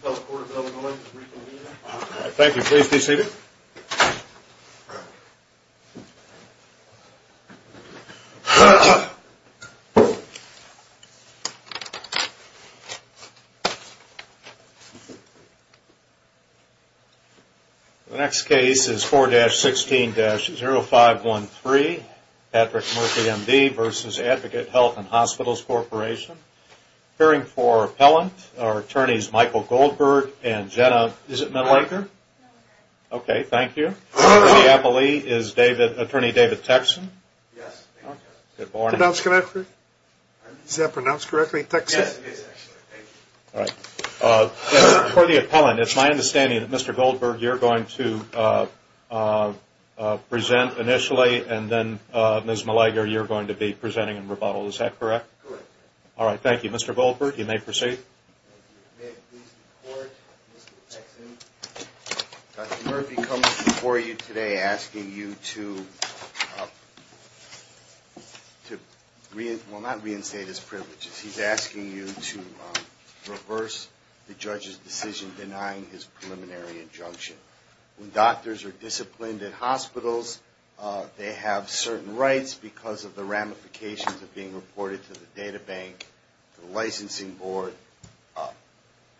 The next case is 4-16-0513, Patrick Murphy, M.D. v. Advocate Health & Hospitals Corporation. Appearing for Appellant are Attorneys Michael Goldberg and Jenna Millager. Okay, thank you. For the Appellant is Attorney David Texson. For the Appellant, it's my understanding that Mr. Goldberg you're going to present initially, and then Ms. Millager you're going to be presenting in rebuttal, is that correct? Correct. All right, thank you. Mr. Goldberg, you may proceed. May it please the Court, Mr. Texson, Dr. Murphy comes before you today asking you to, well not reinstate his privileges, he's asking you to reverse the judge's decision denying his preliminary injunction. When doctors are disciplined in hospitals, they have certain rights because of the ramifications of being reported to the data bank, the licensing board,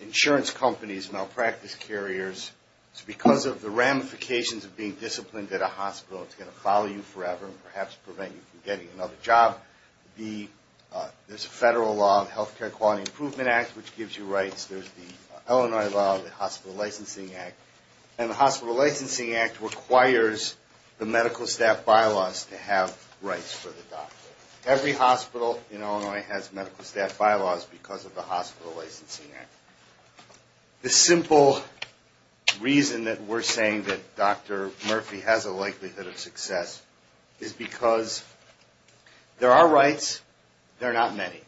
insurance companies, malpractice carriers. It's because of the ramifications of being disciplined at a hospital. It's going to follow you forever and perhaps prevent you from getting another job. There's a federal law, the Healthcare Quality Improvement Act, which gives you rights. There's the Illinois law, the Hospital Licensing Act, and the Hospital Licensing Act requires the medical staff bylaws to have rights for the doctor. Every hospital in Illinois has medical staff bylaws because of the Hospital Licensing Act. The simple reason that we're saying that Dr. Murphy has a likelihood of success is because there are rights, there are not many.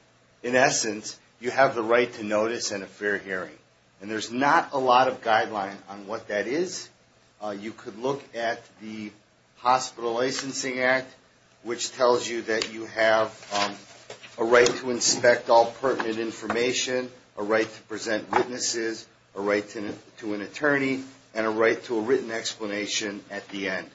In essence, you have the right to notice and a fair hearing. And there's not a lot of guideline on what that is. You could look at the Hospital Licensing Act, which tells you that you have a right to inspect all pertinent information, a right to present witnesses, a right to an attorney, and a right to a written explanation at the end.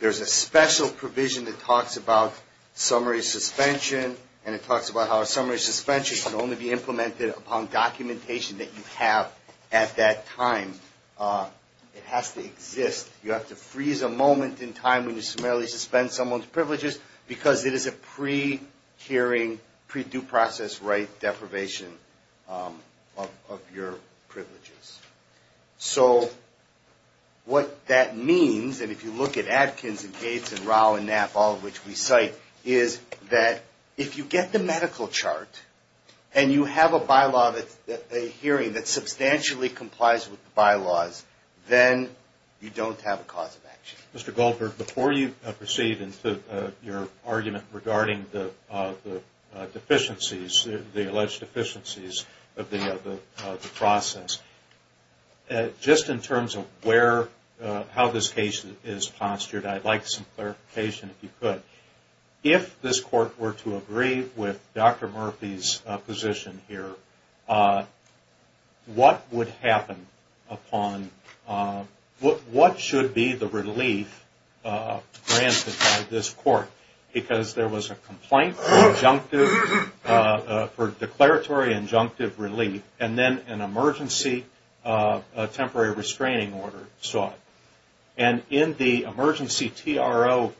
There's a special provision that talks about summary suspension, and it talks about how a summary suspension can only be implemented upon documentation that you have at that time. It has to exist. You have to freeze a moment in time when you summarily suspend someone's privileges because it is a pre-hearing, pre-due process right deprivation of your privileges. So what that means, and if you look at Atkins and Gates and Rao and Knapp, all of which we cite, is that if you get the medical chart and you have a bylaw, a hearing that substantially complies with the bylaws, then you don't have a cause of action. Mr. Goldberg, before you proceed into your argument regarding the deficiencies, the alleged deficiencies of the process, just in terms of how this case is postured, I'd like some clarification, if you could. If this court were to agree with Dr. Murphy's position here, what would happen upon, what should be the relief granted by this court? Because there was a complaint for declaratory injunctive relief, and then an emergency temporary restraining order sought. And in the emergency TRO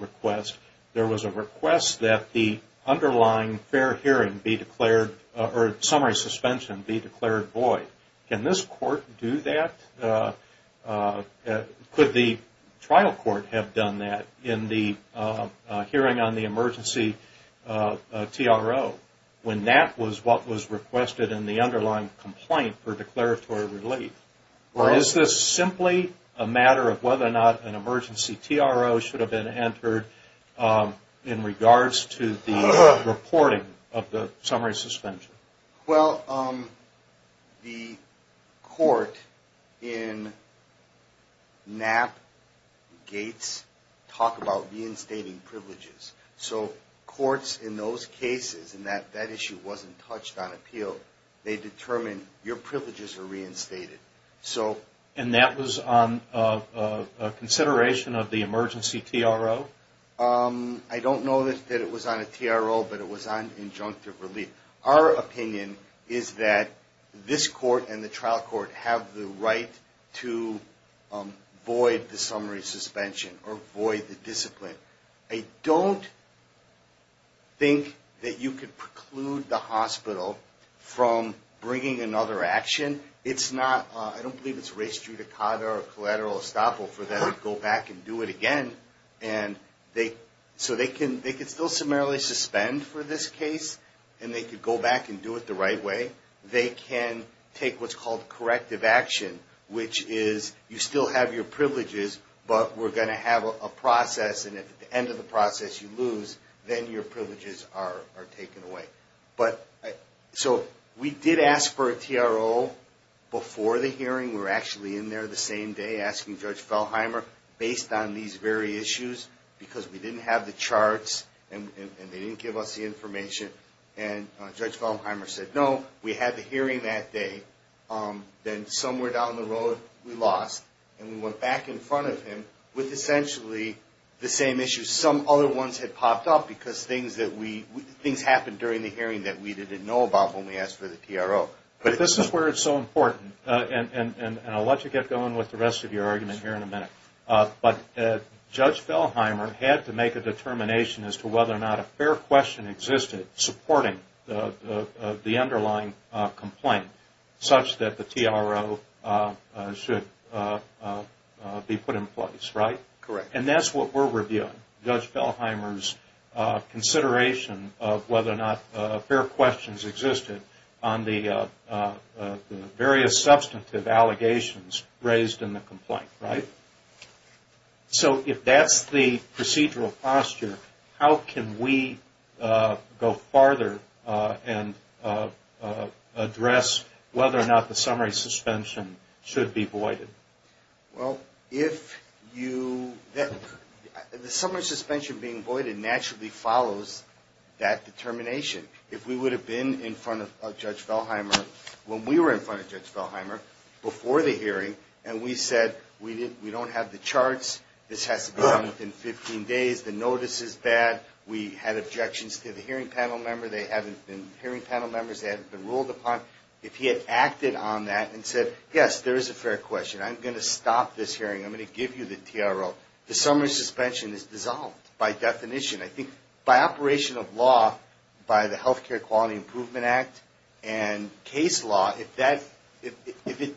request, there was a request that the underlying fair hearing be declared, or summary suspension be declared void. Can this court do that? Could the trial court have done that in the hearing on the emergency TRO when that was what was requested in the underlying complaint for declaratory relief? Or is this simply a matter of whether or not an emergency TRO should have been entered in regards to the reporting of the summary suspension? Well, the court in Knapp, Gates, talk about reinstating privileges. So courts in those cases, and that issue wasn't touched on appeal, they determine your privileges are reinstated. And that was on consideration of the emergency TRO? I don't know that it was on a TRO, but it was on injunctive relief. Our opinion is that this court and the trial court have the right to void the summary suspension or void the discipline. I don't think that you could preclude the hospital from bringing another action. It's not, I don't believe it's res judicata or collateral estoppel for them to go back and do it again. And so they can still summarily suspend for this case, and they could go back and do it the right way. They can take what's called corrective action, which is you still have your privileges, but we're going to have a process. And at the end of the process, you lose. Then your privileges are taken away. So we did ask for a TRO before the hearing. We were actually in there the same day asking Judge Feldheimer, based on these very issues, because we didn't have the charts and they didn't give us the information. And Judge Feldheimer said, no, we had the hearing that day. Then somewhere down the road, we lost, and we went back in front of him with essentially the same issues. Some other ones had popped up because things happened during the hearing that we didn't know about when we asked for the TRO. But this is where it's so important, and I'll let you get going with the rest of your argument here in a minute. But Judge Feldheimer had to make a determination as to whether or not a fair question existed supporting the underlying complaint such that the TRO should be put in place, right? Correct. And that's what we're reviewing, Judge Feldheimer's consideration of whether or not fair questions existed on the various substantive allegations raised in the complaint, right? So if that's the procedural posture, how can we go farther and address whether or not the summary suspension should be voided? Well, if you – the summary suspension being voided naturally follows that determination. If we would have been in front of Judge Feldheimer when we were in front of Judge Feldheimer before the hearing and we said we don't have the charts, this has to be done within 15 days, the notice is bad, we had objections to the hearing panel member, they haven't been hearing panel members, they haven't been ruled upon. If he had acted on that and said, yes, there is a fair question, I'm going to stop this hearing, I'm going to give you the TRO, the summary suspension is dissolved by definition. I think by operation of law, by the Healthcare Quality Improvement Act and case law, if it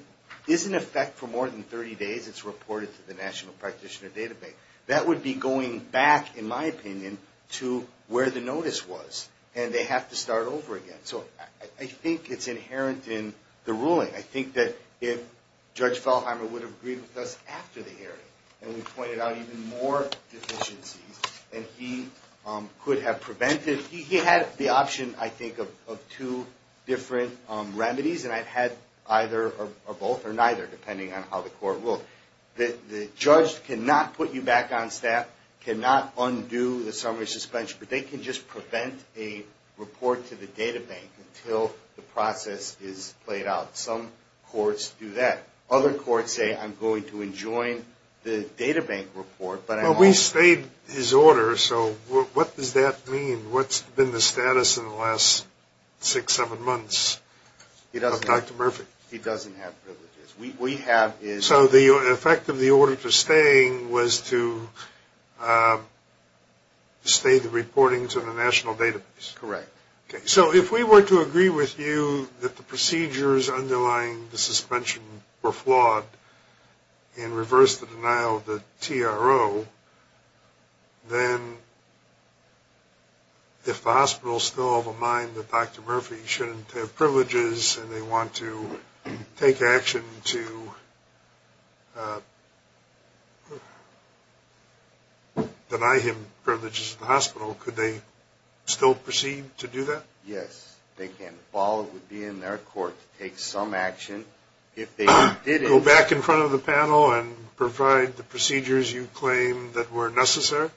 is in effect for more than 30 days, it's reported to the National Practitioner Database. That would be going back, in my opinion, to where the notice was. And they have to start over again. So I think it's inherent in the ruling. I think that if Judge Feldheimer would have agreed with us after the hearing and we pointed out even more deficiencies, and he could have prevented – he had the option, I think, of two different remedies, and I've had either or both or neither, depending on how the court ruled. The judge cannot put you back on staff, cannot undo the summary suspension, but they can just prevent a report to the databank until the process is played out. Some courts do that. Other courts say, I'm going to enjoin the databank report. But we stayed his order, so what does that mean? What's been the status in the last six, seven months of Dr. Murphy? He doesn't have privileges. So the effect of the order for staying was to stay the reporting to the National Database? Correct. Okay, so if we were to agree with you that the procedures underlying the suspension were flawed and reverse the denial of the TRO, then if the hospital is still of a mind that Dr. Murphy shouldn't have privileges and they want to take action to deny him privileges at the hospital, could they still proceed to do that? Yes, they can. The ball would be in their court to take some action. Go back in front of the panel and provide the procedures you claim that were necessary?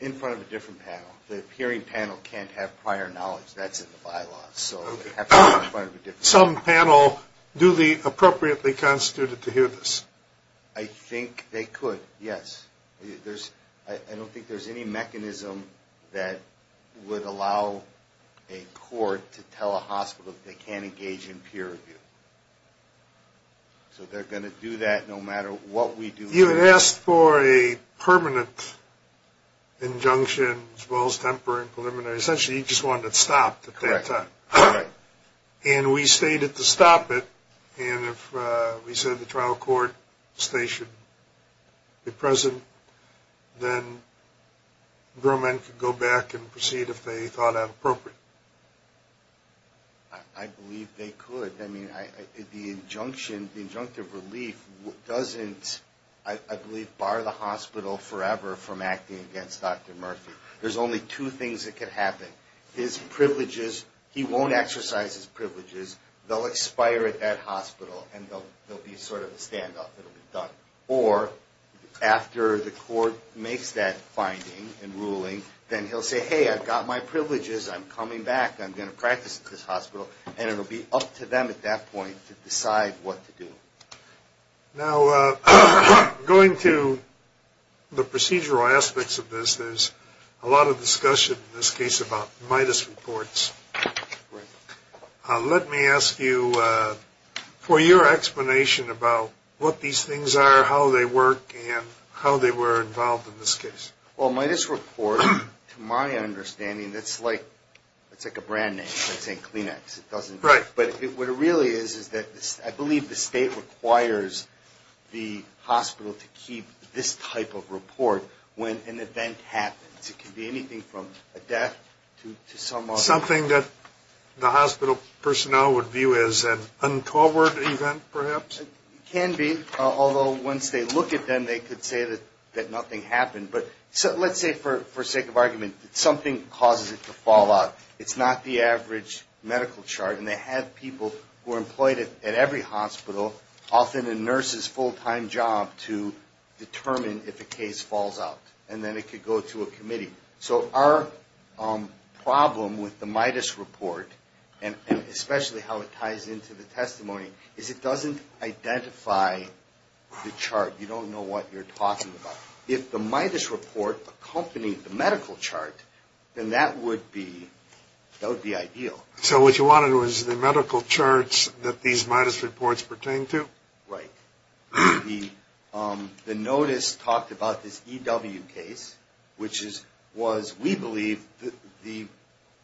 In front of a different panel. The hearing panel can't have prior knowledge. That's in the bylaws. Some panel do the appropriately constituted to hear this? I think they could, yes. I don't think there's any mechanism that would allow a court to tell a hospital they can't engage in peer review. So they're going to do that no matter what we do. You had asked for a permanent injunction as well as temporary and preliminary. Essentially, you just wanted it stopped at that time. Correct. And we stated to stop it. And if we said the trial court stay should be present, then grown men could go back and proceed if they thought that appropriate. I believe they could. I mean, the injunction, the injunctive relief doesn't, I believe, bar the hospital forever from acting against Dr. Murphy. There's only two things that could happen. His privileges, he won't exercise his privileges. They'll expire at that hospital, and they'll be sort of a standoff. It'll be done. Or after the court makes that finding and ruling, then he'll say, hey, I've got my privileges. I'm coming back. I'm going to practice at this hospital. And it'll be up to them at that point to decide what to do. Now, going to the procedural aspects of this, there's a lot of discussion in this case about MIDAS reports. Let me ask you for your explanation about what these things are, how they work, and how they were involved in this case. Well, a MIDAS report, to my understanding, it's like a brand name. It's not saying Kleenex. It doesn't. Right. But what it really is is that I believe the state requires the hospital to keep this type of report when an event happens. It can be anything from a death to some other. Something that the hospital personnel would view as an untoward event, perhaps? It can be, although once they look at them, they could say that nothing happened. But let's say for sake of argument that something causes it to fall out. It's not the average medical chart. And they have people who are employed at every hospital, often a nurse's full-time job, to determine if a case falls out. And then it could go to a committee. So our problem with the MIDAS report, and especially how it ties into the testimony, is it doesn't identify the chart. You don't know what you're talking about. If the MIDAS report accompanied the medical chart, then that would be ideal. So what you wanted was the medical charts that these MIDAS reports pertain to? Right. The notice talked about this EW case, which was, we believe, the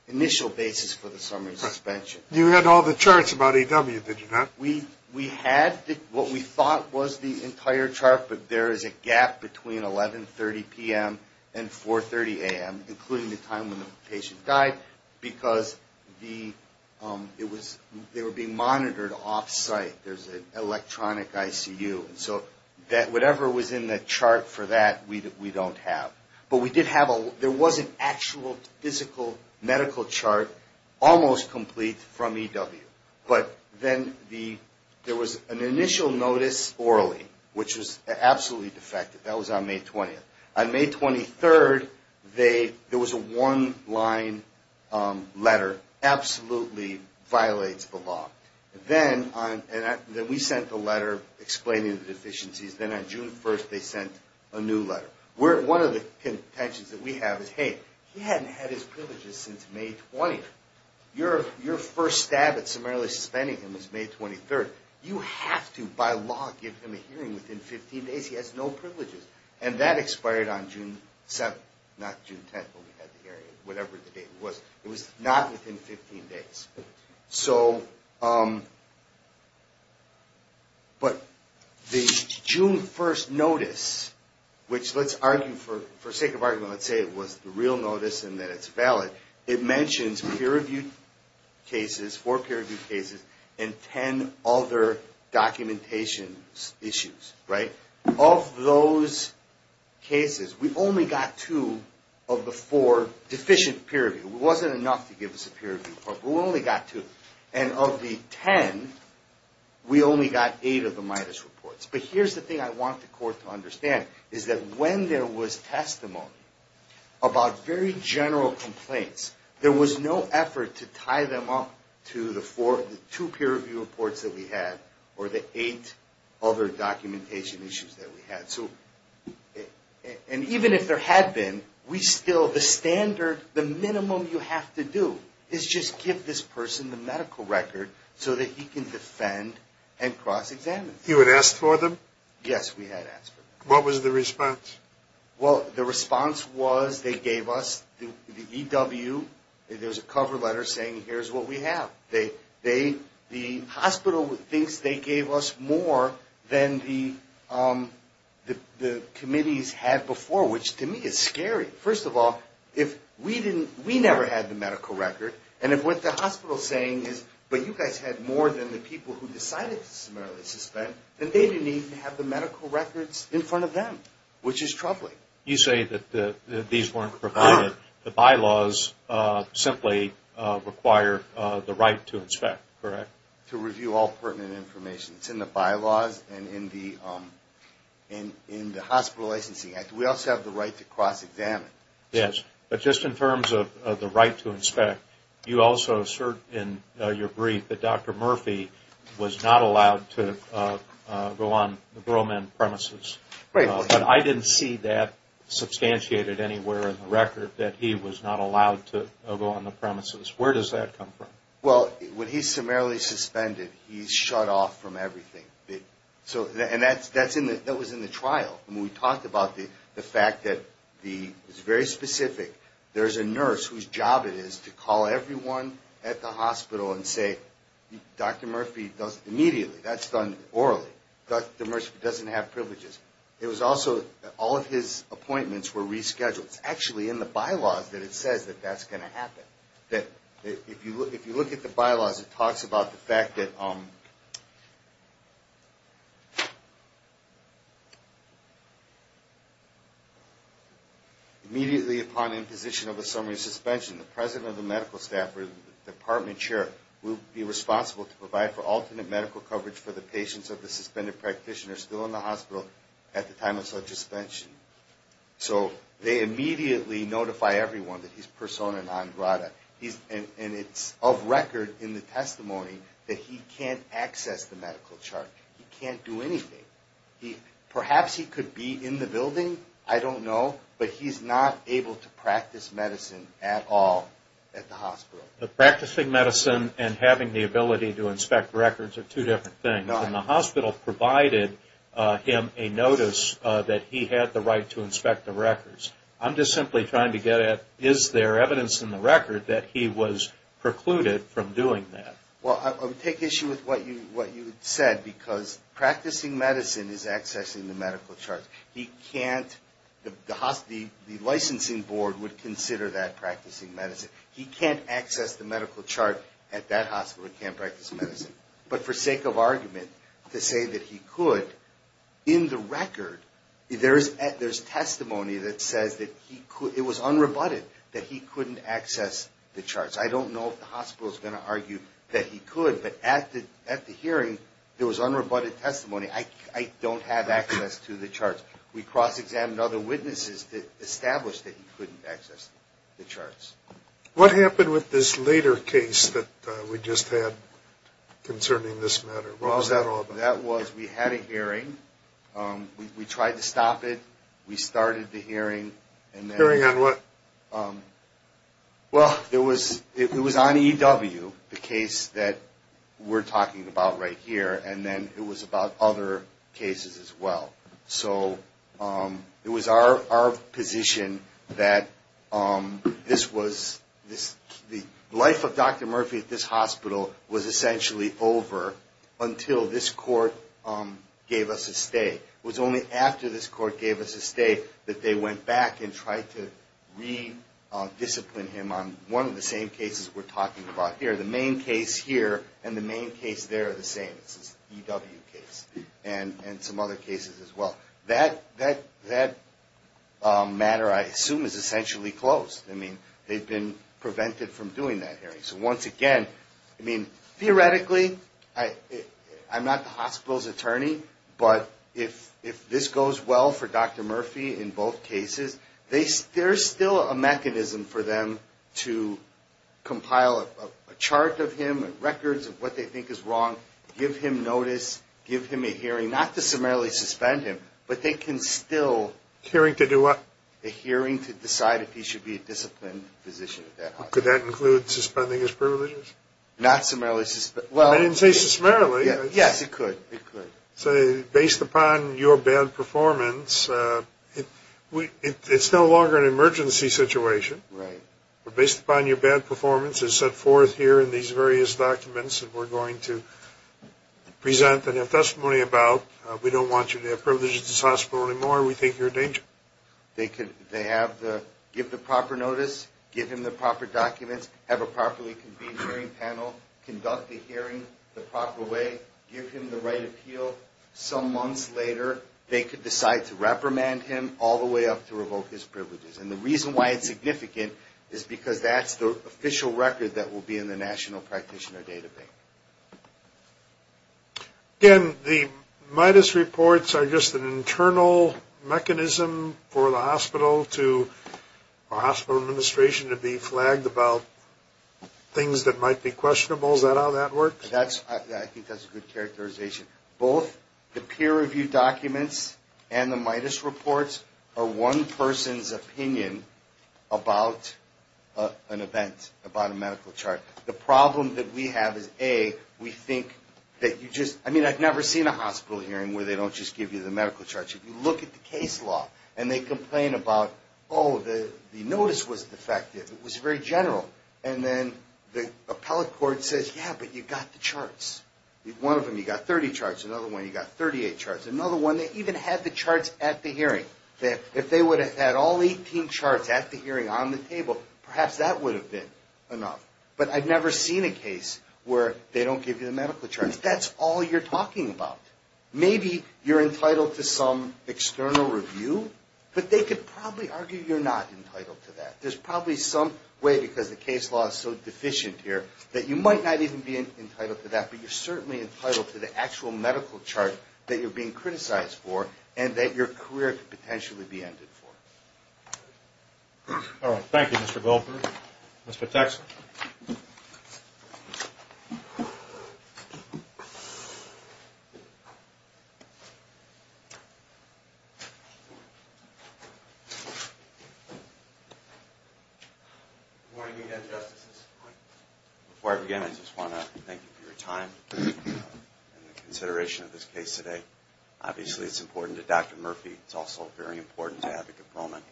initial basis for the summary suspension. You had all the charts about EW, did you not? We had what we thought was the entire chart, but there is a gap between 11.30 p.m. and 4.30 a.m., including the time when the patient died, because they were being monitored off-site. There's an electronic ICU. So whatever was in the chart for that, we don't have. But there was an actual physical medical chart, almost complete, from EW. But then there was an initial notice orally, which was absolutely defective. That was on May 20th. On May 23rd, there was a one-line letter, absolutely violates the law. Then we sent the letter explaining the deficiencies. Then on June 1st, they sent a new letter. One of the contentions that we have is, hey, he hadn't had his privileges since May 20th. Your first stab at summarily suspending him is May 23rd. You have to, by law, give him a hearing within 15 days. He has no privileges. And that expired on June 7th, not June 10th, when we had the hearing, whatever the date was. It was not within 15 days. But the June 1st notice, which let's argue for sake of argument, let's say it was the real notice and that it's valid, it mentions peer-reviewed cases, four peer-reviewed cases, and 10 other documentation issues. Of those cases, we only got two of the four deficient peer-reviewed. It wasn't enough to give us a peer-reviewed report, but we only got two. And of the 10, we only got eight of the MIDAS reports. But here's the thing I want the court to understand, is that when there was testimony about very general complaints, there was no effort to tie them up to the two peer-reviewed reports that we had or the eight other documentation issues that we had. And even if there had been, we still, the standard, the minimum you have to do is just give this person the medical record so that he can defend and cross-examine. You had asked for them? Yes, we had asked for them. What was the response? Well, the response was they gave us the EW, there's a cover letter saying here's what we have. The hospital thinks they gave us more than the committees had before, which to me is scary. First of all, if we never had the medical record, and if what the hospital is saying is, but you guys had more than the people who decided to summarily suspend, then they didn't even have the medical records in front of them, which is troubling. You say that these weren't provided, the bylaws simply require the right to inspect, correct? To review all pertinent information. It's in the bylaws and in the Hospital Licensing Act. We also have the right to cross-examine. You also assert in your brief that Dr. Murphy was not allowed to go on the Broman premises. Right. But I didn't see that substantiated anywhere in the record that he was not allowed to go on the premises. Where does that come from? Well, when he's summarily suspended, he's shut off from everything. And that was in the trial. I mean, we talked about the fact that it's very specific. There's a nurse whose job it is to call everyone at the hospital and say, Dr. Murphy doesn't, immediately, that's done orally. Dr. Murphy doesn't have privileges. It was also, all of his appointments were rescheduled. It's actually in the bylaws that it says that that's going to happen. If you look at the bylaws, it talks about the fact that immediately upon imposition of a summary suspension, the president of the medical staff or the department chair will be responsible to provide for alternate medical coverage for the patients of the suspended practitioner still in the hospital at the time of such suspension. So they immediately notify everyone that he's persona non grata. And it's of record in the testimony that he can't access the medical chart. He can't do anything. Perhaps he could be in the building. I don't know. But he's not able to practice medicine at all at the hospital. Practicing medicine and having the ability to inspect records are two different things. And the hospital provided him a notice that he had the right to inspect the records. I'm just simply trying to get at, is there evidence in the record that he was precluded from doing that? Well, I would take issue with what you said, because practicing medicine is accessing the medical chart. He can't, the licensing board would consider that practicing medicine. He can't access the medical chart at that hospital. He can't practice medicine. But for sake of argument, to say that he could, in the record, there's testimony that says that he could. It was unrebutted that he couldn't access the charts. I don't know if the hospital is going to argue that he could. But at the hearing, there was unrebutted testimony. I don't have access to the charts. We cross-examined other witnesses that established that he couldn't access the charts. What happened with this later case that we just had concerning this matter? What was that all about? That was, we had a hearing. We tried to stop it. We started the hearing. Hearing on what? Well, it was on EW, the case that we're talking about right here. And then it was about other cases as well. So it was our position that this was, the life of Dr. Murphy at this hospital was essentially over until this court gave us a stay. It was only after this court gave us a stay that they went back and tried to re-discipline him on one of the same cases we're talking about here. The main case here and the main case there are the same. This is EW case and some other cases as well. That matter, I assume, is essentially closed. I mean, they've been prevented from doing that hearing. So once again, I mean, theoretically, I'm not the hospital's attorney, but if this goes well for Dr. Murphy in both cases, there's still a mechanism for them to compile a chart of him, records of what they think is wrong, give him a stay. Give him notice, give him a hearing, not to summarily suspend him, but they can still... Hearing to do what? A hearing to decide if he should be a disciplined physician at that hospital. Could that include suspending his privileges? Not summarily... I didn't say summarily. Yes, it could. So based upon your bad performance, it's no longer an emergency situation. Right. Based upon your bad performance, it's set forth here in these various documents that we're going to present and have testimony about. We don't want you to have privileges at this hospital anymore. We think you're in danger. They have the... Give the proper notice, give him the proper documents, have a properly convened hearing panel, conduct the hearing the proper way, give him the right appeal. Some months later, they could decide to reprimand him all the way up to revoke his privileges. And the reason why it's significant is because that's the official record that will be in the National Practitioner Data Bank. Again, the MIDUS reports are just an internal mechanism for the hospital to... or hospital administration to be flagged about things that might be questionable. Is that how that works? I think that's a good characterization. Both the peer-reviewed documents and the MIDUS reports are one person's opinion about an event, about a medical chart. The problem that we have is, A, we think that you just... I mean, I've never seen a hospital hearing where they don't just give you the medical charts. If you look at the case law and they complain about, oh, the notice was defective, it was very general. And then the appellate court says, yeah, but you got the charts. One of them, you got 30 charts. Another one, you got 38 charts. Another one, they even had the charts at the hearing. If they would have had all 18 charts at the hearing on the table, perhaps that would have been enough. But I've never seen a case where they don't give you the medical charts. That's all you're talking about. Maybe you're entitled to some external review, but they could probably argue you're not entitled to that. There's probably some way, because the case law is so deficient here, that you might not even be entitled to that, but you're certainly entitled to the actual medical chart that you're being criticized for and that your career could potentially be ended for. All right. Thank you, Mr. Goldberg. Mr. Texel. Good morning, again, Justices. Before I begin, I just want to thank you for your time and the consideration of this case today. Obviously, it's important to Dr. Murphy. It's also very important to Advocate Bowman.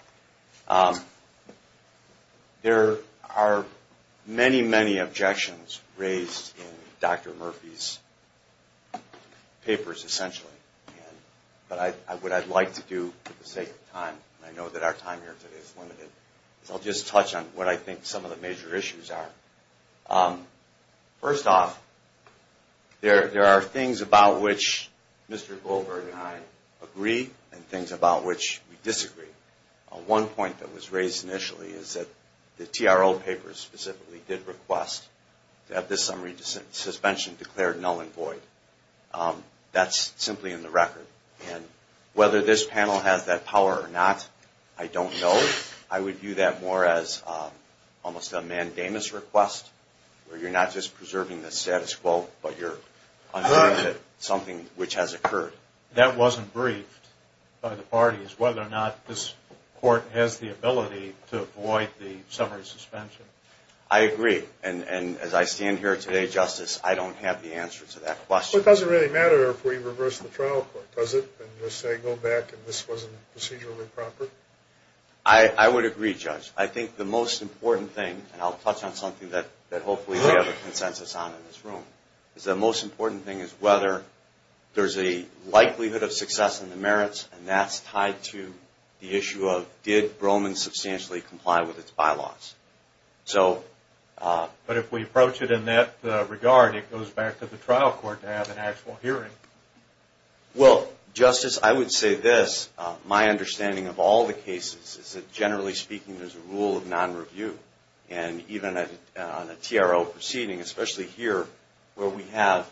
There are many, many objections raised in Dr. Murphy's papers, essentially. But what I'd like to do, for the sake of time, and I know that our time here today is limited, is I'll just touch on what I think some of the major issues are. First off, there are things about which Mr. Goldberg and I agree and things about which we disagree. One point that was raised initially is that the TRO papers specifically did request to have this summary suspension declared null and void. That's simply in the record. Whether this panel has that power or not, I don't know. I would view that more as almost a mandamus request, where you're not just preserving the status quo, but you're understanding something which has occurred. That wasn't briefed by the parties, whether or not this Court has the ability to avoid the summary suspension. I agree. And as I stand here today, Justice, I don't have the answer to that question. Well, it doesn't really matter if we reverse the trial court, does it? And just say, go back and this wasn't procedurally proper? I would agree, Judge. I think the most important thing, and I'll touch on something that hopefully we have a consensus on in this room, is the most important thing is whether there's a likelihood of success in the merits, and that's tied to the issue of did Broman substantially comply with its bylaws. But if we approach it in that regard, it goes back to the trial court to have an actual hearing. Well, Justice, I would say this. My understanding of all the cases is that generally speaking, there's a rule of non-review. And even on a TRO proceeding, especially here where we have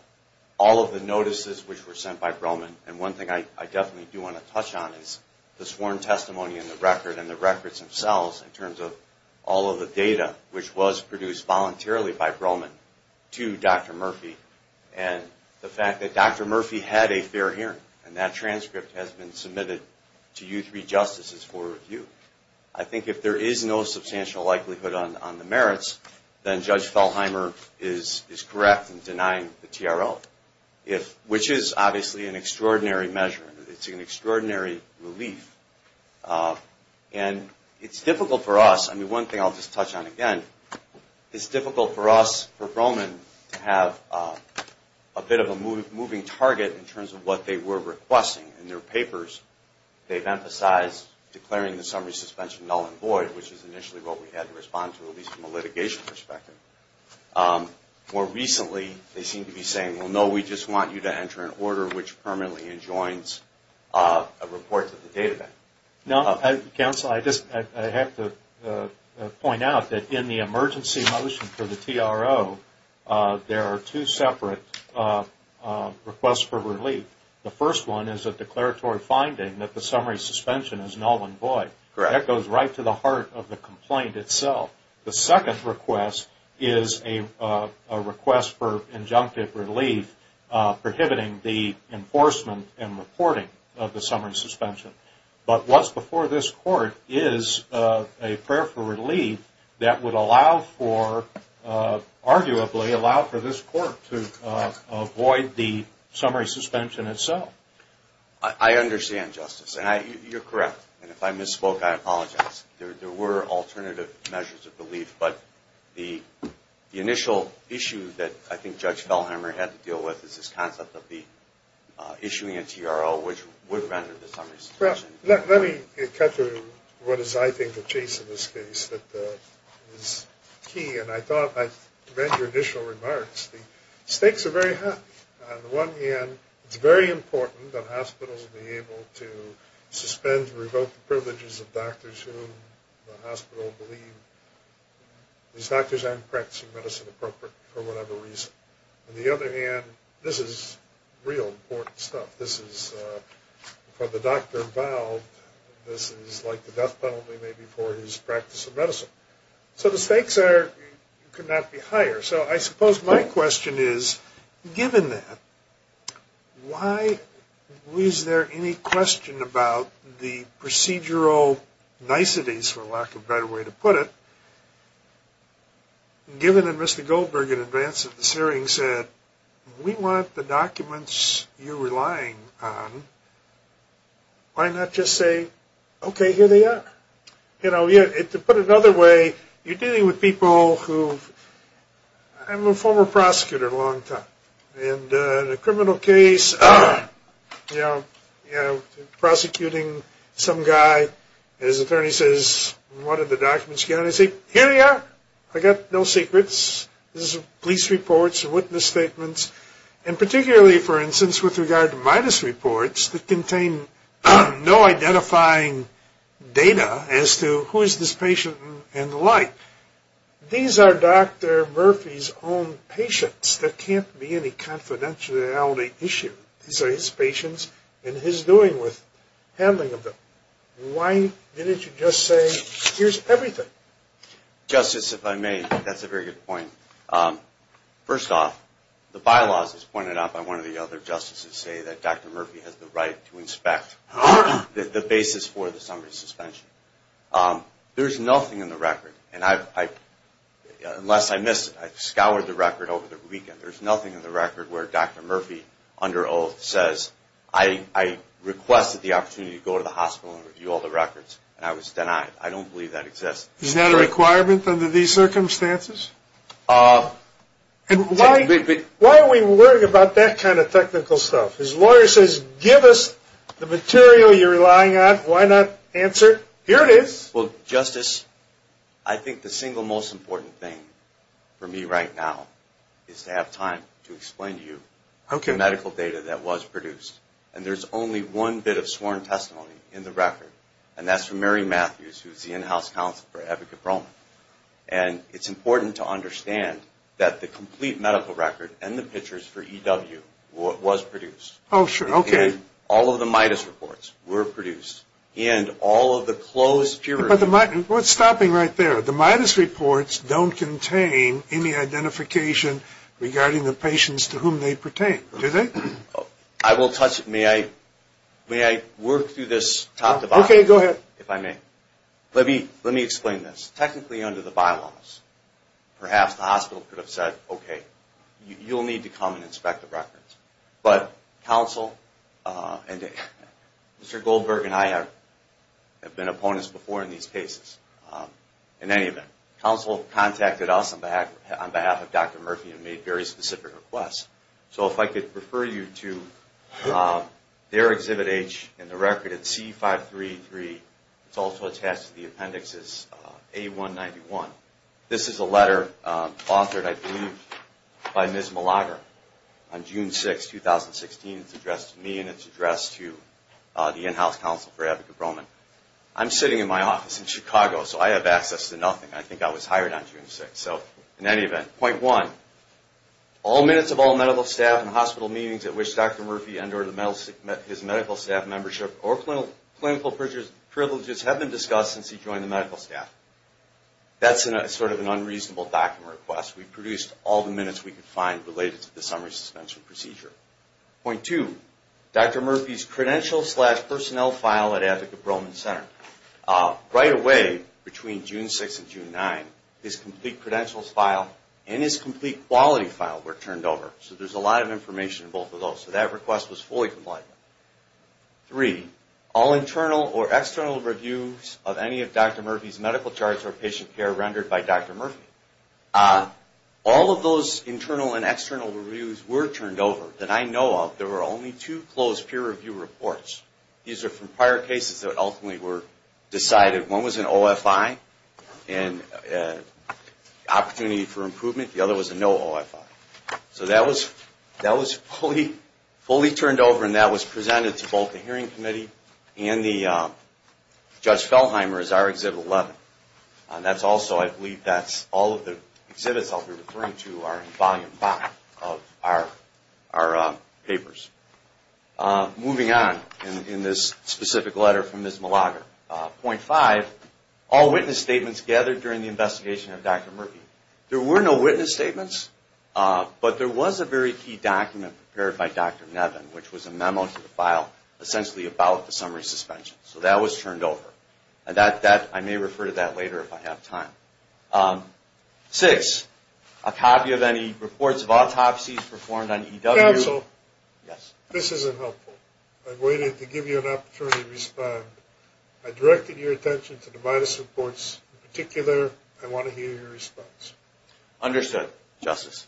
all of the notices which were sent by Broman, and one thing I definitely do want to touch on is the sworn testimony in the record and the records themselves in terms of all of the data which was produced voluntarily by Broman to Dr. Murphy and the fact that Dr. Murphy had a fair hearing, and that transcript has been submitted to you three justices for review. I think if there is no substantial likelihood on the merits, then Judge Fellheimer is correct in denying the TRO, which is obviously an extraordinary measure. It's an extraordinary relief. And it's difficult for us. I mean, one thing I'll just touch on again, it's difficult for us, for Broman, to have a bit of a moving target in terms of what they were requesting in their papers. They've emphasized declaring the summary suspension null and void, which is initially what we had to respond to at least from a litigation perspective. More recently, they seem to be saying, well, no, we just want you to enter an order which permanently enjoins a report to the data bank. No, counsel, I just have to point out that in the emergency motion for the TRO, there are two separate requests for relief. The first one is a declaratory finding that the summary suspension is null and void. Correct. That goes right to the heart of the complaint itself. The second request is a request for injunctive relief, prohibiting the enforcement and reporting of the summary suspension. But what's before this Court is a prayer for relief that would allow for, arguably, allow for this Court to avoid the summary suspension itself. I understand, Justice, and you're correct. And if I misspoke, I apologize. There were alternative measures of relief. But the initial issue that I think Judge Fellhammer had to deal with is this concept of the issuing a TRO, which would render the summary suspension null and void. Let me cut to what is, I think, the case in this case that is key. And I thought by your initial remarks, the stakes are very high. On the one hand, it's very important that hospitals be able to suspend and revoke the privileges of doctors who the hospital believe these doctors aren't practicing medicine appropriately for whatever reason. On the other hand, this is real important stuff. This is, for the doctor involved, this is like the death penalty maybe for his practice of medicine. So the stakes are, could not be higher. So I suppose my question is, given that, why is there any question about the procedural niceties, for lack of a better way to put it, given that Mr. Goldberg, in advance of this hearing, said, we want the documents you're relying on. Why not just say, okay, here they are? To put it another way, you're dealing with people who, I'm a former prosecutor a long time. In a criminal case, prosecuting some guy, his attorney says, what are the documents you're getting? I say, here they are. I got no secrets. This is police reports and witness statements. And particularly, for instance, with regard to MIDUS reports that contain no identifying data as to who is this patient and the like. These are Dr. Murphy's own patients. There can't be any confidentiality issue. These are his patients and his doing with handling of them. Why didn't you just say, here's everything? Justice, if I may, that's a very good point. First off, the bylaws, as pointed out by one of the other justices, say that Dr. Murphy has the right to inspect the basis for the summary suspension. There's nothing in the record, and unless I missed it, I scoured the record over the weekend. There's nothing in the record where Dr. Murphy, under oath, says, I requested the opportunity to go to the hospital and review all the records, and I was denied. I don't believe that exists. Is that a requirement under these circumstances? Why are we worried about that kind of technical stuff? His lawyer says, give us the material you're relying on. Why not answer? Here it is. Well, Justice, I think the single most important thing for me right now is to have time to explain to you the medical data that was produced. And there's only one bit of sworn testimony in the record, and that's from Mary Matthews, who's the in-house counselor for Abigail Broman. And it's important to understand that the complete medical record and the pictures for EW was produced. Oh, sure. Okay. And all of the MIDAS reports were produced. And all of the closed peer review. But what's stopping right there? The MIDAS reports don't contain any identification regarding the patients to whom they pertain, do they? I will touch it. May I work through this top to bottom? Okay, go ahead. If I may. Let me explain this. Technically, under the bylaws, perhaps the hospital could have said, okay, you'll need to come and inspect the records. But counsel and Mr. Goldberg and I have been opponents before in these cases. In any event, counsel contacted us on behalf of Dr. Murphy and made very specific requests. So if I could refer you to their Exhibit H in the record at C533. It's also attached to the appendix as A191. This is a letter authored, I believe, by Ms. Malager on June 6, 2016. It's addressed to me and it's addressed to the in-house counselor for Abigail Broman. I'm sitting in my office in Chicago, so I have access to nothing. I think I was hired on June 6. So in any event, point one, all minutes of all medical staff and hospital meetings at which Dr. Murphy endured his medical staff membership or clinical privileges have been discussed since he joined the medical staff. That's sort of an unreasonable document request. We produced all the minutes we could find related to the summary suspension procedure. Point two, Dr. Murphy's credential slash personnel file at Abigail Broman Center. Right away, between June 6 and June 9, his complete credentials file and his complete quality file were turned over. So there's a lot of information in both of those. So that request was fully complied with. Three, all internal or external reviews of any of Dr. Murphy's medical charts or patient care rendered by Dr. Murphy. All of those internal and external reviews were turned over that I know of. There were only two closed peer review reports. These are from prior cases that ultimately were decided. One was an OFI, an opportunity for improvement. The other was a no OFI. So that was fully turned over, and that was presented to both the hearing committee and the Judge Feldheimer as our Exhibit 11. That's also, I believe, that's all of the exhibits I'll be referring to are in volume five of our papers. Moving on in this specific letter from Ms. Malager. Point five, all witness statements gathered during the investigation of Dr. Murphy. There were no witness statements, but there was a very key document prepared by Dr. Nevin, which was a memo to the file essentially about the summary suspension. So that was turned over. I may refer to that later if I have time. Six, a copy of any reports of autopsies performed on EW. Mr. Counsel, this isn't helpful. I've waited to give you an opportunity to respond. I directed your attention to the MIDAS reports in particular. I want to hear your response. Understood, Justice.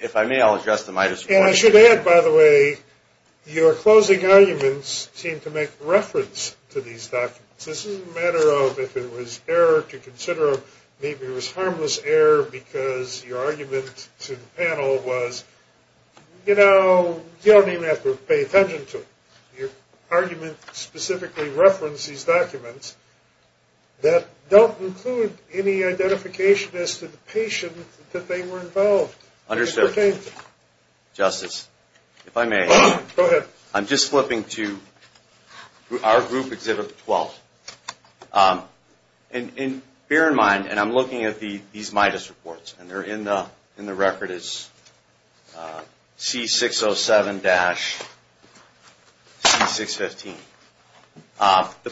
If I may, I'll address the MIDAS report. And I should add, by the way, your closing arguments seem to make reference to these documents. This isn't a matter of if it was error to consider. Maybe it was harmless error because your argument to the panel was, you know, you don't even have to pay attention to it. Your argument specifically referenced these documents that don't include any identification as to the patient that they were involved. Understood, Justice. If I may. Go ahead. I'm just flipping to our group exhibit 12. And bear in mind, and I'm looking at these MIDAS reports, and they're in the record as C607-C615. The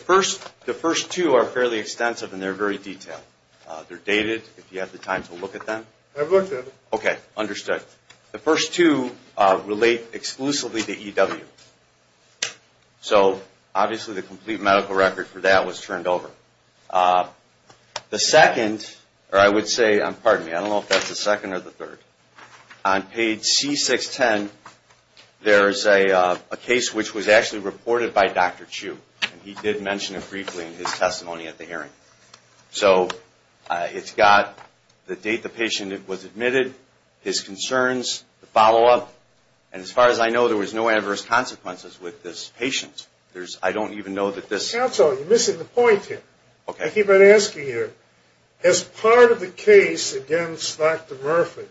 first two are fairly extensive and they're very detailed. They're dated, if you have the time to look at them. I've looked at them. Okay, understood. But the first two relate exclusively to EW. So obviously the complete medical record for that was turned over. The second, or I would say, pardon me, I don't know if that's the second or the third. On page C610, there is a case which was actually reported by Dr. Chu. He did mention it briefly in his testimony at the hearing. So it's got the date the patient was admitted, his concerns, the follow-up. And as far as I know, there was no adverse consequences with this patient. I don't even know that this – Counsel, you're missing the point here. I keep on asking you. As part of the case against Dr. Murphy,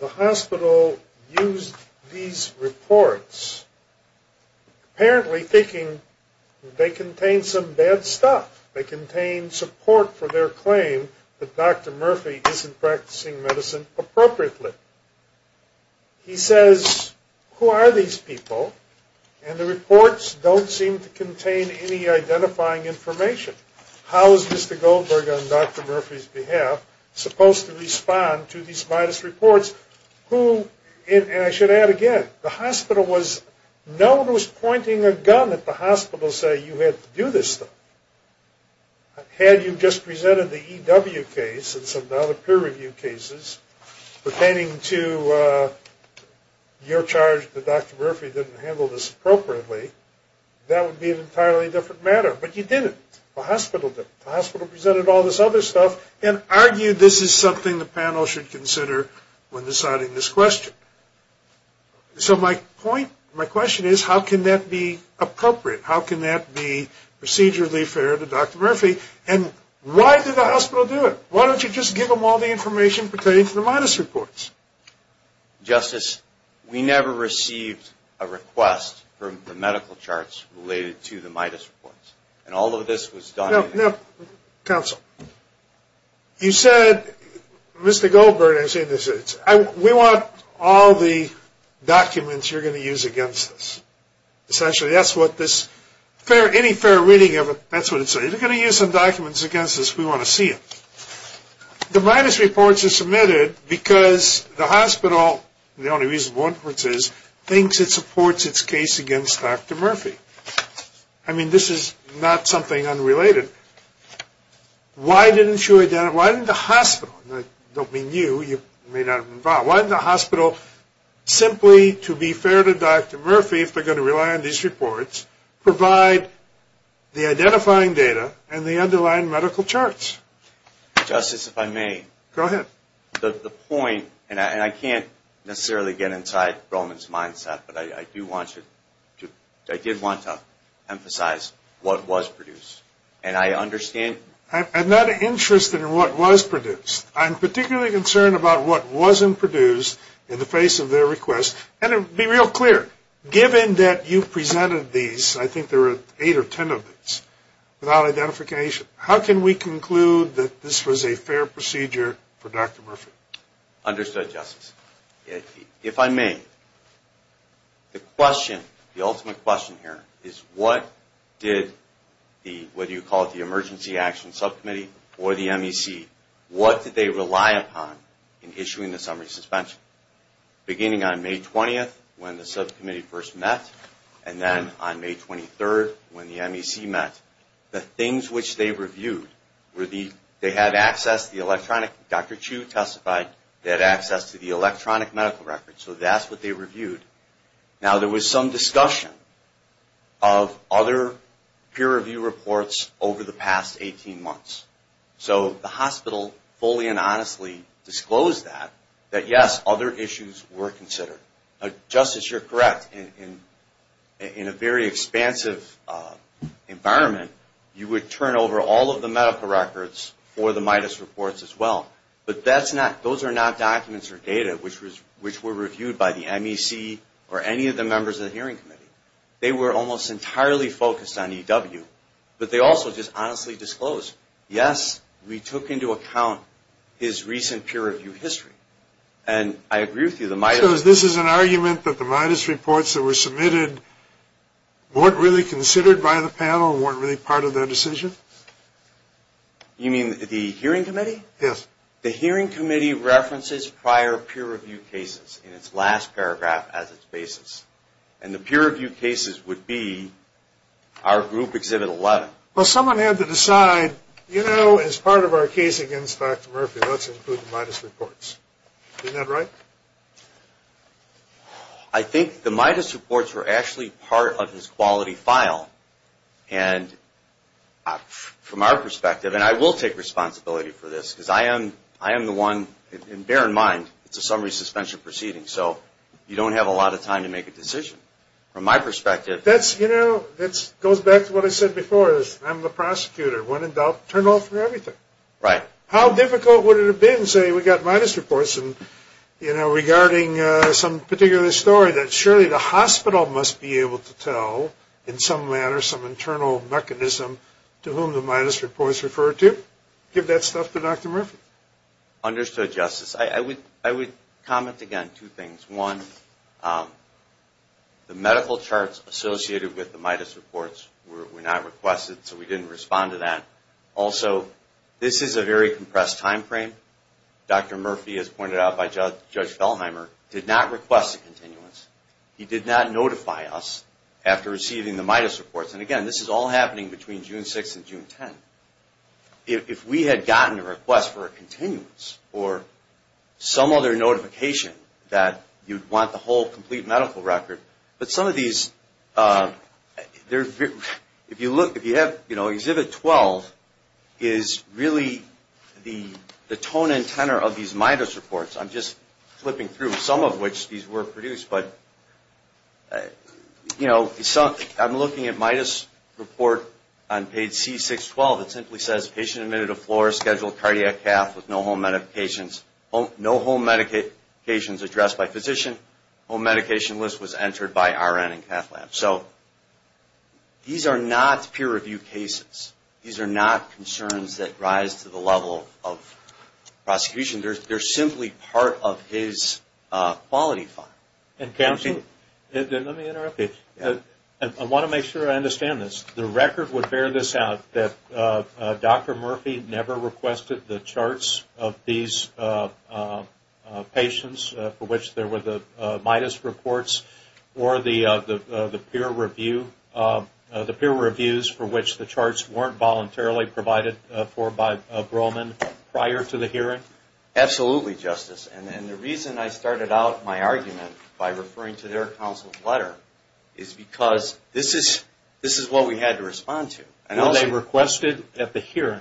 the hospital used these reports, apparently thinking they contained some bad stuff. They contained support for their claim that Dr. Murphy isn't practicing medicine appropriately. He says, who are these people? And the reports don't seem to contain any identifying information. How is Mr. Goldberg, on Dr. Murphy's behalf, supposed to respond to these modest reports? And I should add again, the hospital was – no one was pointing a gun at the hospital saying you had to do this stuff. Had you just presented the EW case and some of the other peer review cases pertaining to your charge that Dr. Murphy didn't handle this appropriately, that would be an entirely different matter. But you didn't. The hospital did. The hospital presented all this other stuff and argued this is something the panel should consider when deciding this question. So my point – my question is, how can that be appropriate? How can that be procedurally fair to Dr. Murphy? And why did the hospital do it? Why don't you just give them all the information pertaining to the MIDAS reports? Justice, we never received a request for the medical charts related to the MIDAS reports. And all of this was done – Now, counsel, you said Mr. Goldberg – we want all the documents you're going to use against us. Essentially, that's what this – any fair reading of it, that's what it says. If you're going to use some documents against us, we want to see it. The MIDAS reports are submitted because the hospital, the only reasonable inference is, thinks it supports its case against Dr. Murphy. I mean, this is not something unrelated. Why didn't you identify – why didn't the hospital – and I don't mean you, you may not be involved – why didn't the hospital, simply to be fair to Dr. Murphy, if they're going to rely on these reports, provide the identifying data and the underlying medical charts? Justice, if I may. Go ahead. The point – and I can't necessarily get inside Roman's mindset, but I do want to – I did want to emphasize what was produced. And I understand – I'm not interested in what was produced. I'm particularly concerned about what wasn't produced in the face of their request. And to be real clear, given that you presented these, I think there were eight or ten of these, without identification, how can we conclude that this was a fair procedure for Dr. Murphy? Understood, Justice. If I may, the question, the ultimate question here, is what did the – whether you call it the Emergency Action Subcommittee or the MEC – what did they rely upon in issuing the summary suspension? Beginning on May 20th, when the subcommittee first met, and then on May 23rd, when the MEC met, the things which they reviewed were the – they had access to the electronic – electronic medical records. So that's what they reviewed. Now, there was some discussion of other peer review reports over the past 18 months. So the hospital fully and honestly disclosed that, that yes, other issues were considered. Justice, you're correct. In a very expansive environment, you would turn over all of the medical records for the MIDAS reports as well. But that's not – those are not documents or data which were reviewed by the MEC or any of the members of the hearing committee. They were almost entirely focused on EW. But they also just honestly disclosed, yes, we took into account his recent peer review history. And I agree with you, the MIDAS – So this is an argument that the MIDAS reports that were submitted weren't really considered by the panel and weren't really part of their decision? You mean the hearing committee? Yes. The hearing committee references prior peer review cases in its last paragraph as its basis. And the peer review cases would be our Group Exhibit 11. Well, someone had to decide, you know, as part of our case against Dr. Murphy, let's include the MIDAS reports. Isn't that right? I think the MIDAS reports were actually part of his quality file. And from our perspective, and I will take responsibility for this, because I am the one – and bear in mind, it's a summary suspension proceeding. So you don't have a lot of time to make a decision. From my perspective – That's, you know, it goes back to what I said before. I'm the prosecutor. When in doubt, turn off everything. Right. How difficult would it have been, say, we got MIDAS reports, and, you know, regarding some particular story that surely the hospital must be able to tell in some manner some internal mechanism to whom the MIDAS reports refer to? Give that stuff to Dr. Murphy. Understood, Justice. I would comment, again, two things. One, the medical charts associated with the MIDAS reports were not requested, so we didn't respond to that. Also, this is a very compressed timeframe. Dr. Murphy, as pointed out by Judge Belheimer, did not request a continuance. He did not notify us after receiving the MIDAS reports. And, again, this is all happening between June 6th and June 10th. If we had gotten a request for a continuance or some other notification that you'd want the whole complete medical record, but some of these – if you look, if you have, you know, Exhibit 12 is really the tone and tenor of these MIDAS reports. I'm just flipping through some of which these were produced, but, you know, I'm looking at MIDAS report on page C612. It simply says, patient admitted a floor-scheduled cardiac cath with no home medications addressed by physician. Home medication list was entered by RN and cath lab. So these are not peer-reviewed cases. These are not concerns that rise to the level of prosecution. They're simply part of his quality file. And, Counselor, let me interrupt you. I want to make sure I understand this. The record would bear this out, that Dr. Murphy never requested the charts of these patients for which there were the MIDAS reports or the peer reviews for which the charts weren't voluntarily provided for by Brohman prior to the hearing? Absolutely, Justice. And the reason I started out my argument by referring to their counsel's letter is because this is what we had to respond to. Were they requested at the hearing?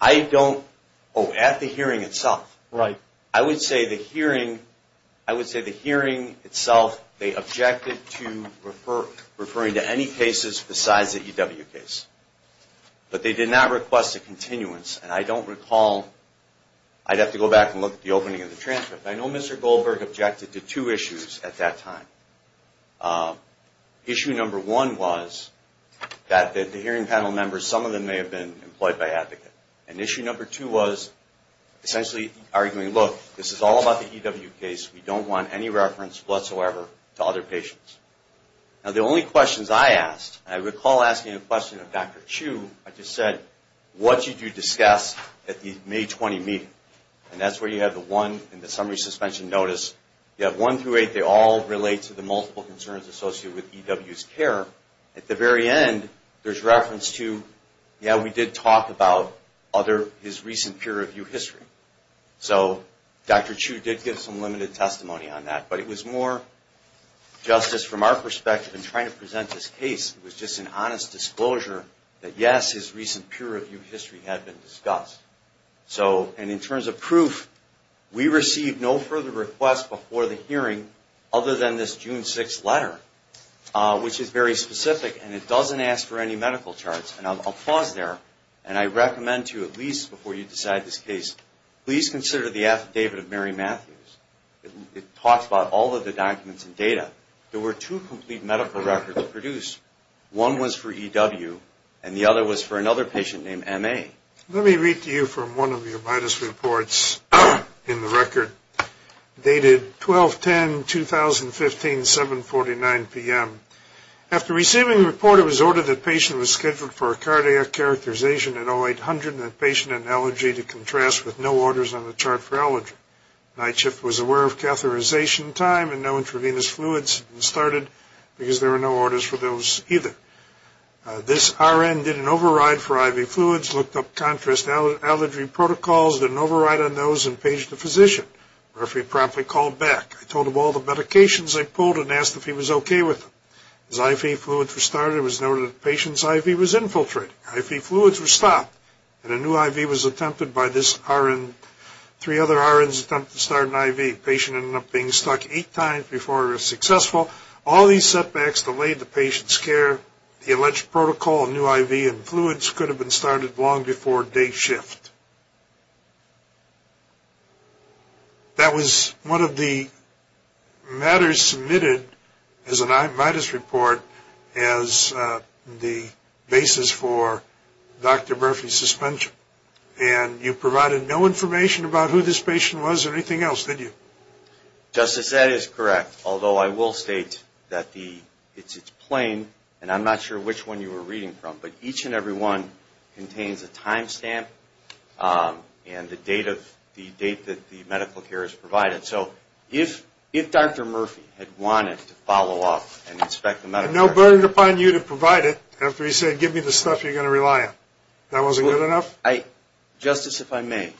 I don't – oh, at the hearing itself. Right. I would say the hearing – I would say the hearing itself, they objected to referring to any cases besides the EW case. But they did not request a continuance. And I don't recall – I'd have to go back and look at the opening of the transcript. I know Mr. Goldberg objected to two issues at that time. Issue number one was that the hearing panel members, some of them may have been employed by Advocate. And issue number two was essentially arguing, look, this is all about the EW case. We don't want any reference whatsoever to other patients. Now the only questions I asked, and I recall asking a question of Dr. Chu, I just said, what did you discuss at the May 20 meeting? And that's where you have the one in the summary suspension notice. You have one through eight. They all relate to the multiple concerns associated with EW's care. At the very end, there's reference to, yeah, we did talk about other – his recent peer review history. So Dr. Chu did give some limited testimony on that. But it was more justice from our perspective in trying to present this case. It was just an honest disclosure that, yes, his recent peer review history had been discussed. So – and in terms of proof, we received no further requests before the hearing other than this June 6 letter, which is very specific. And it doesn't ask for any medical charts. And I'll pause there. And I recommend to you, at least before you decide this case, please consider the affidavit of Mary Matthews. It talks about all of the documents and data. There were two complete medical records produced. One was for EW, and the other was for another patient named M.A. Let me read to you from one of your latest reports in the record, dated 12-10-2015, 7-49 p.m. After receiving the report, it was ordered that the patient was scheduled for a cardiac characterization at 0800 and the patient had an allergy to contrast with no orders on the chart for allergy. Night shift was aware of catheterization time and no intravenous fluids had been started because there were no orders for those either. This RN didn't override for IV fluids, looked up contrast allergy protocols, didn't override on those, and paged the physician. Referee promptly called back. I told him all the medications I pulled and asked if he was okay with them. His IV fluids were started. It was noted that the patient's IV was infiltrated. IV fluids were stopped. And a new IV was attempted by this RN. Three other RNs attempted to start an IV. The patient ended up being stuck eight times before it was successful. All these setbacks delayed the patient's care. The alleged protocol of new IV and fluids could have been started long before day shift. That was one of the matters submitted as an I-report as the basis for Dr. Murphy's suspension. And you provided no information about who this patient was or anything else, did you? Justice, that is correct. Although I will state that it's plain, and I'm not sure which one you were reading from, but each and every one contains a time stamp and the date that the medical care is provided. So if Dr. Murphy had wanted to follow up and inspect the medical care... And no burden upon you to provide it after he said, give me the stuff you're going to rely on. That wasn't good enough? Justice, if I may,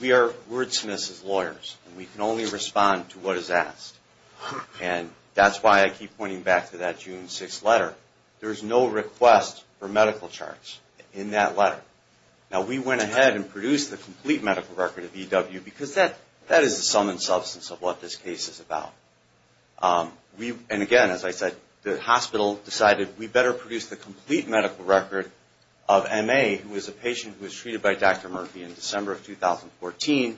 we are wordsmiths as lawyers, and we can only respond to what is asked. And that's why I keep pointing back to that June 6th letter. There is no request for medical charts in that letter. Now, we went ahead and produced the complete medical record of EW, because that is the sum and substance of what this case is about. And again, as I said, the hospital decided we better produce the complete medical record of MA, who is a patient who was treated by Dr. Murphy in December of 2014,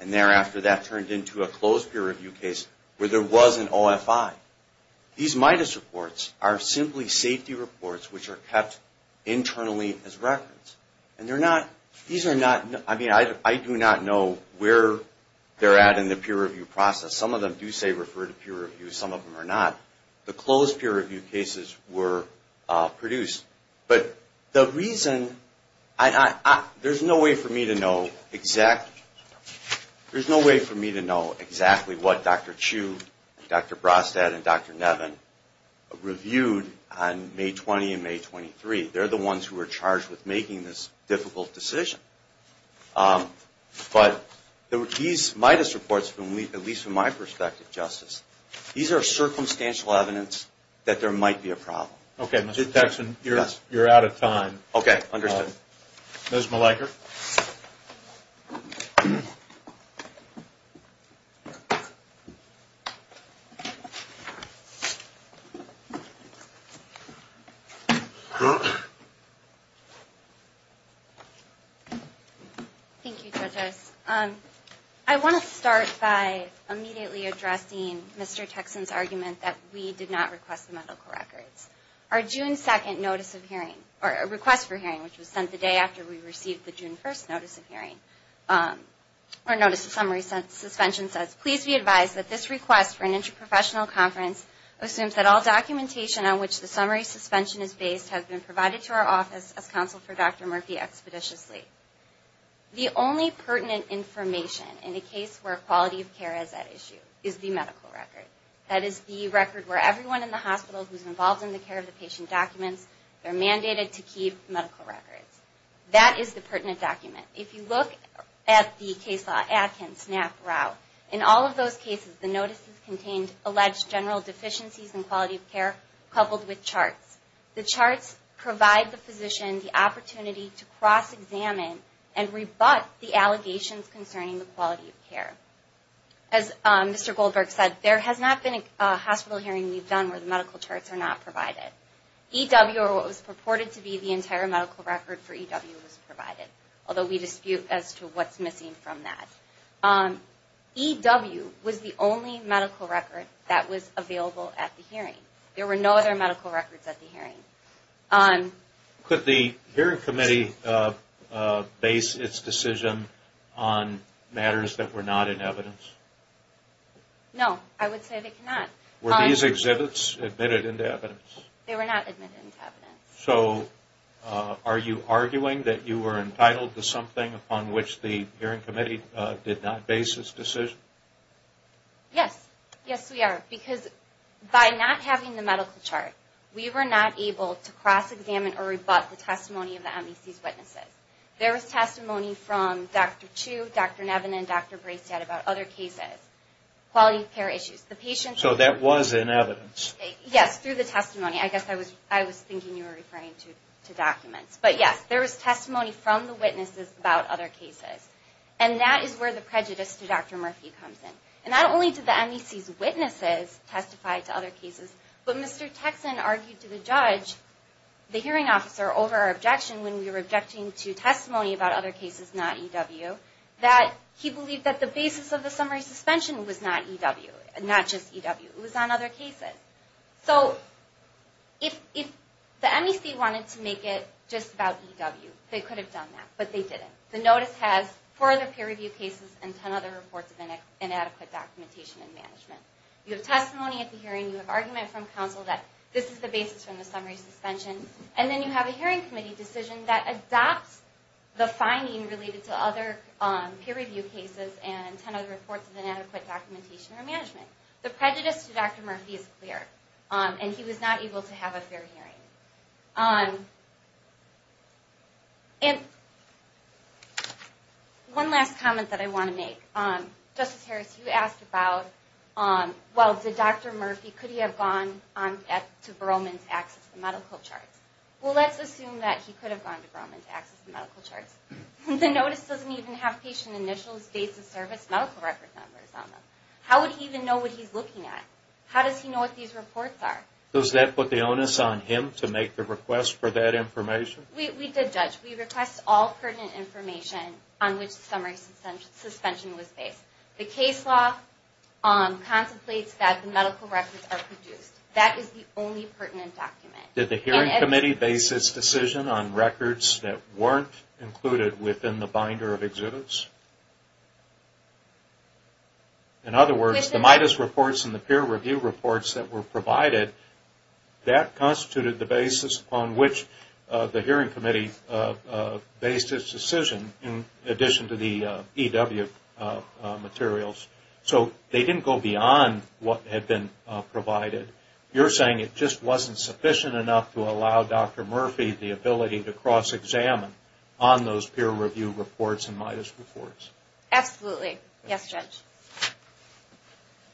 and thereafter that turned into a closed peer review case where there was an OFI. These MIDUS reports are simply safety reports which are kept internally as records. And they're not... These are not... I mean, I do not know where they're at in the peer review process. Some of them do say refer to peer review. Some of them are not. The closed peer review cases were produced. But the reason... There's no way for me to know exactly... There's no way for me to know exactly what Dr. Chu, Dr. Brostat, and Dr. Nevin reviewed on May 20 and May 23. They're the ones who were charged with making this difficult decision. But these MIDUS reports, at least from my perspective, Justice, these are circumstantial evidence that there might be a problem. Okay, Mr. Texson, you're out of time. Okay, understood. Ms. Mleiker. Thank you, judges. I want to start by immediately addressing Mr. Texson's argument that we did not request the medical records. Our June 2nd notice of hearing, or request for hearing, which was sent the day after we received the June 1st notice of hearing, or notice of summary suspension says, please be advised that this request for an interprofessional conference assumes that all documentation on which the summary suspension is based has been provided to our office as counsel for Dr. Murphy expeditiously. The only pertinent information in a case where quality of care is at issue is the medical record. That is the record where everyone in the hospital who's involved in the care of the patient documents, they're mandated to keep medical records. That is the pertinent document. If you look at the case law Adkins, Knapp, Rau, in all of those cases the notices contained alleged general deficiencies in quality of care coupled with charts. The charts provide the physician the opportunity to cross-examine and rebut the allegations concerning the quality of care. As Mr. Goldberg said, there has not been a hospital hearing we've done where the medical charts are not provided. EW, or what was purported to be the entire medical record for EW, was provided, although we dispute as to what's missing from that. EW was the only medical record that was available at the hearing. There were no other medical records at the hearing. Could the hearing committee base its decision on matters that were not in evidence? No, I would say they cannot. Were these exhibits admitted into evidence? They were not admitted into evidence. So are you arguing that you were entitled to something upon which the hearing committee did not base its decision? Yes. Yes, we are. Because by not having the medical chart, we were not able to cross-examine or rebut the testimony of the MEC's witnesses. There was testimony from Dr. Chu, Dr. Nevin, and Dr. Bracedad about other cases, quality of care issues. So that was in evidence? Yes, through the testimony. I guess I was thinking you were referring to documents. But yes, there was testimony from the witnesses about other cases. And that is where the prejudice to Dr. Murphy comes in. And not only did the MEC's witnesses testify to other cases, but Mr. Texan argued to the judge, the hearing officer, over our objection when we were objecting to testimony about other cases, not EW, that he believed that the basis of the summary suspension was not EW, not just EW. It was on other cases. So if the MEC wanted to make it just about EW, they could have done that. But they didn't. The notice has four other peer review cases and ten other reports of inadequate documentation and management. You have testimony at the hearing. You have argument from counsel that this is the basis from the summary suspension. And then you have a hearing committee decision that adopts the finding related to other peer review cases and ten other reports of inadequate documentation or management. The prejudice to Dr. Murphy is clear. And he was not able to have a fair hearing. And one last comment that I want to make. Justice Harris, you asked about, well, did Dr. Murphy, could he have gone to Berlman to access the medical charts? Well, let's assume that he could have gone to Berlman to access the medical charts. The notice doesn't even have patient initials, dates of service, medical record numbers on them. How would he even know what he's looking at? How does he know what these reports are? Does that put the onus on him to make the request for that information? We did, Judge. We request all pertinent information on which the summary suspension was based. The case law contemplates that the medical records are produced. That is the only pertinent document. Did the hearing committee base its decision on records that weren't included within the binder of exhibits? In other words, the MIDAS reports and the peer review reports that were provided, that constituted the basis on which the hearing committee based its decision in addition to the EW materials. So they didn't go beyond what had been provided. You're saying it just wasn't sufficient enough to allow Dr. Murphy the ability to cross-examine on those peer review reports and MIDAS reports? Absolutely. Yes, Judge.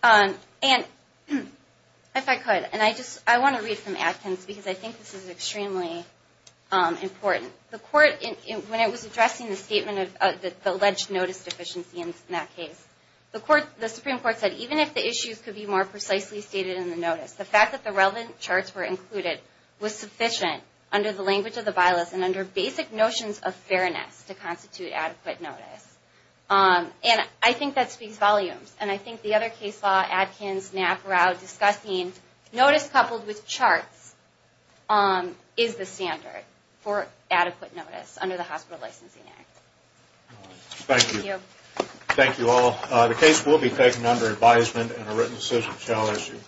And if I could, and I want to read from Atkins because I think this is extremely important. The court, when it was addressing the statement of the alleged notice deficiency in that case, the Supreme Court said, even if the issues could be more precisely stated in the notice, the fact that the relevant charts were included was sufficient under the language of the bylaws and under basic notions of fairness to constitute adequate notice. And I think that speaks volumes. And I think the other case law, Atkins, Knapp, Rao, discussing notice coupled with charts, is the standard for adequate notice under the Hospital Licensing Act. Thank you. Thank you all. The case will be taken under advisement and a written decision shall issue.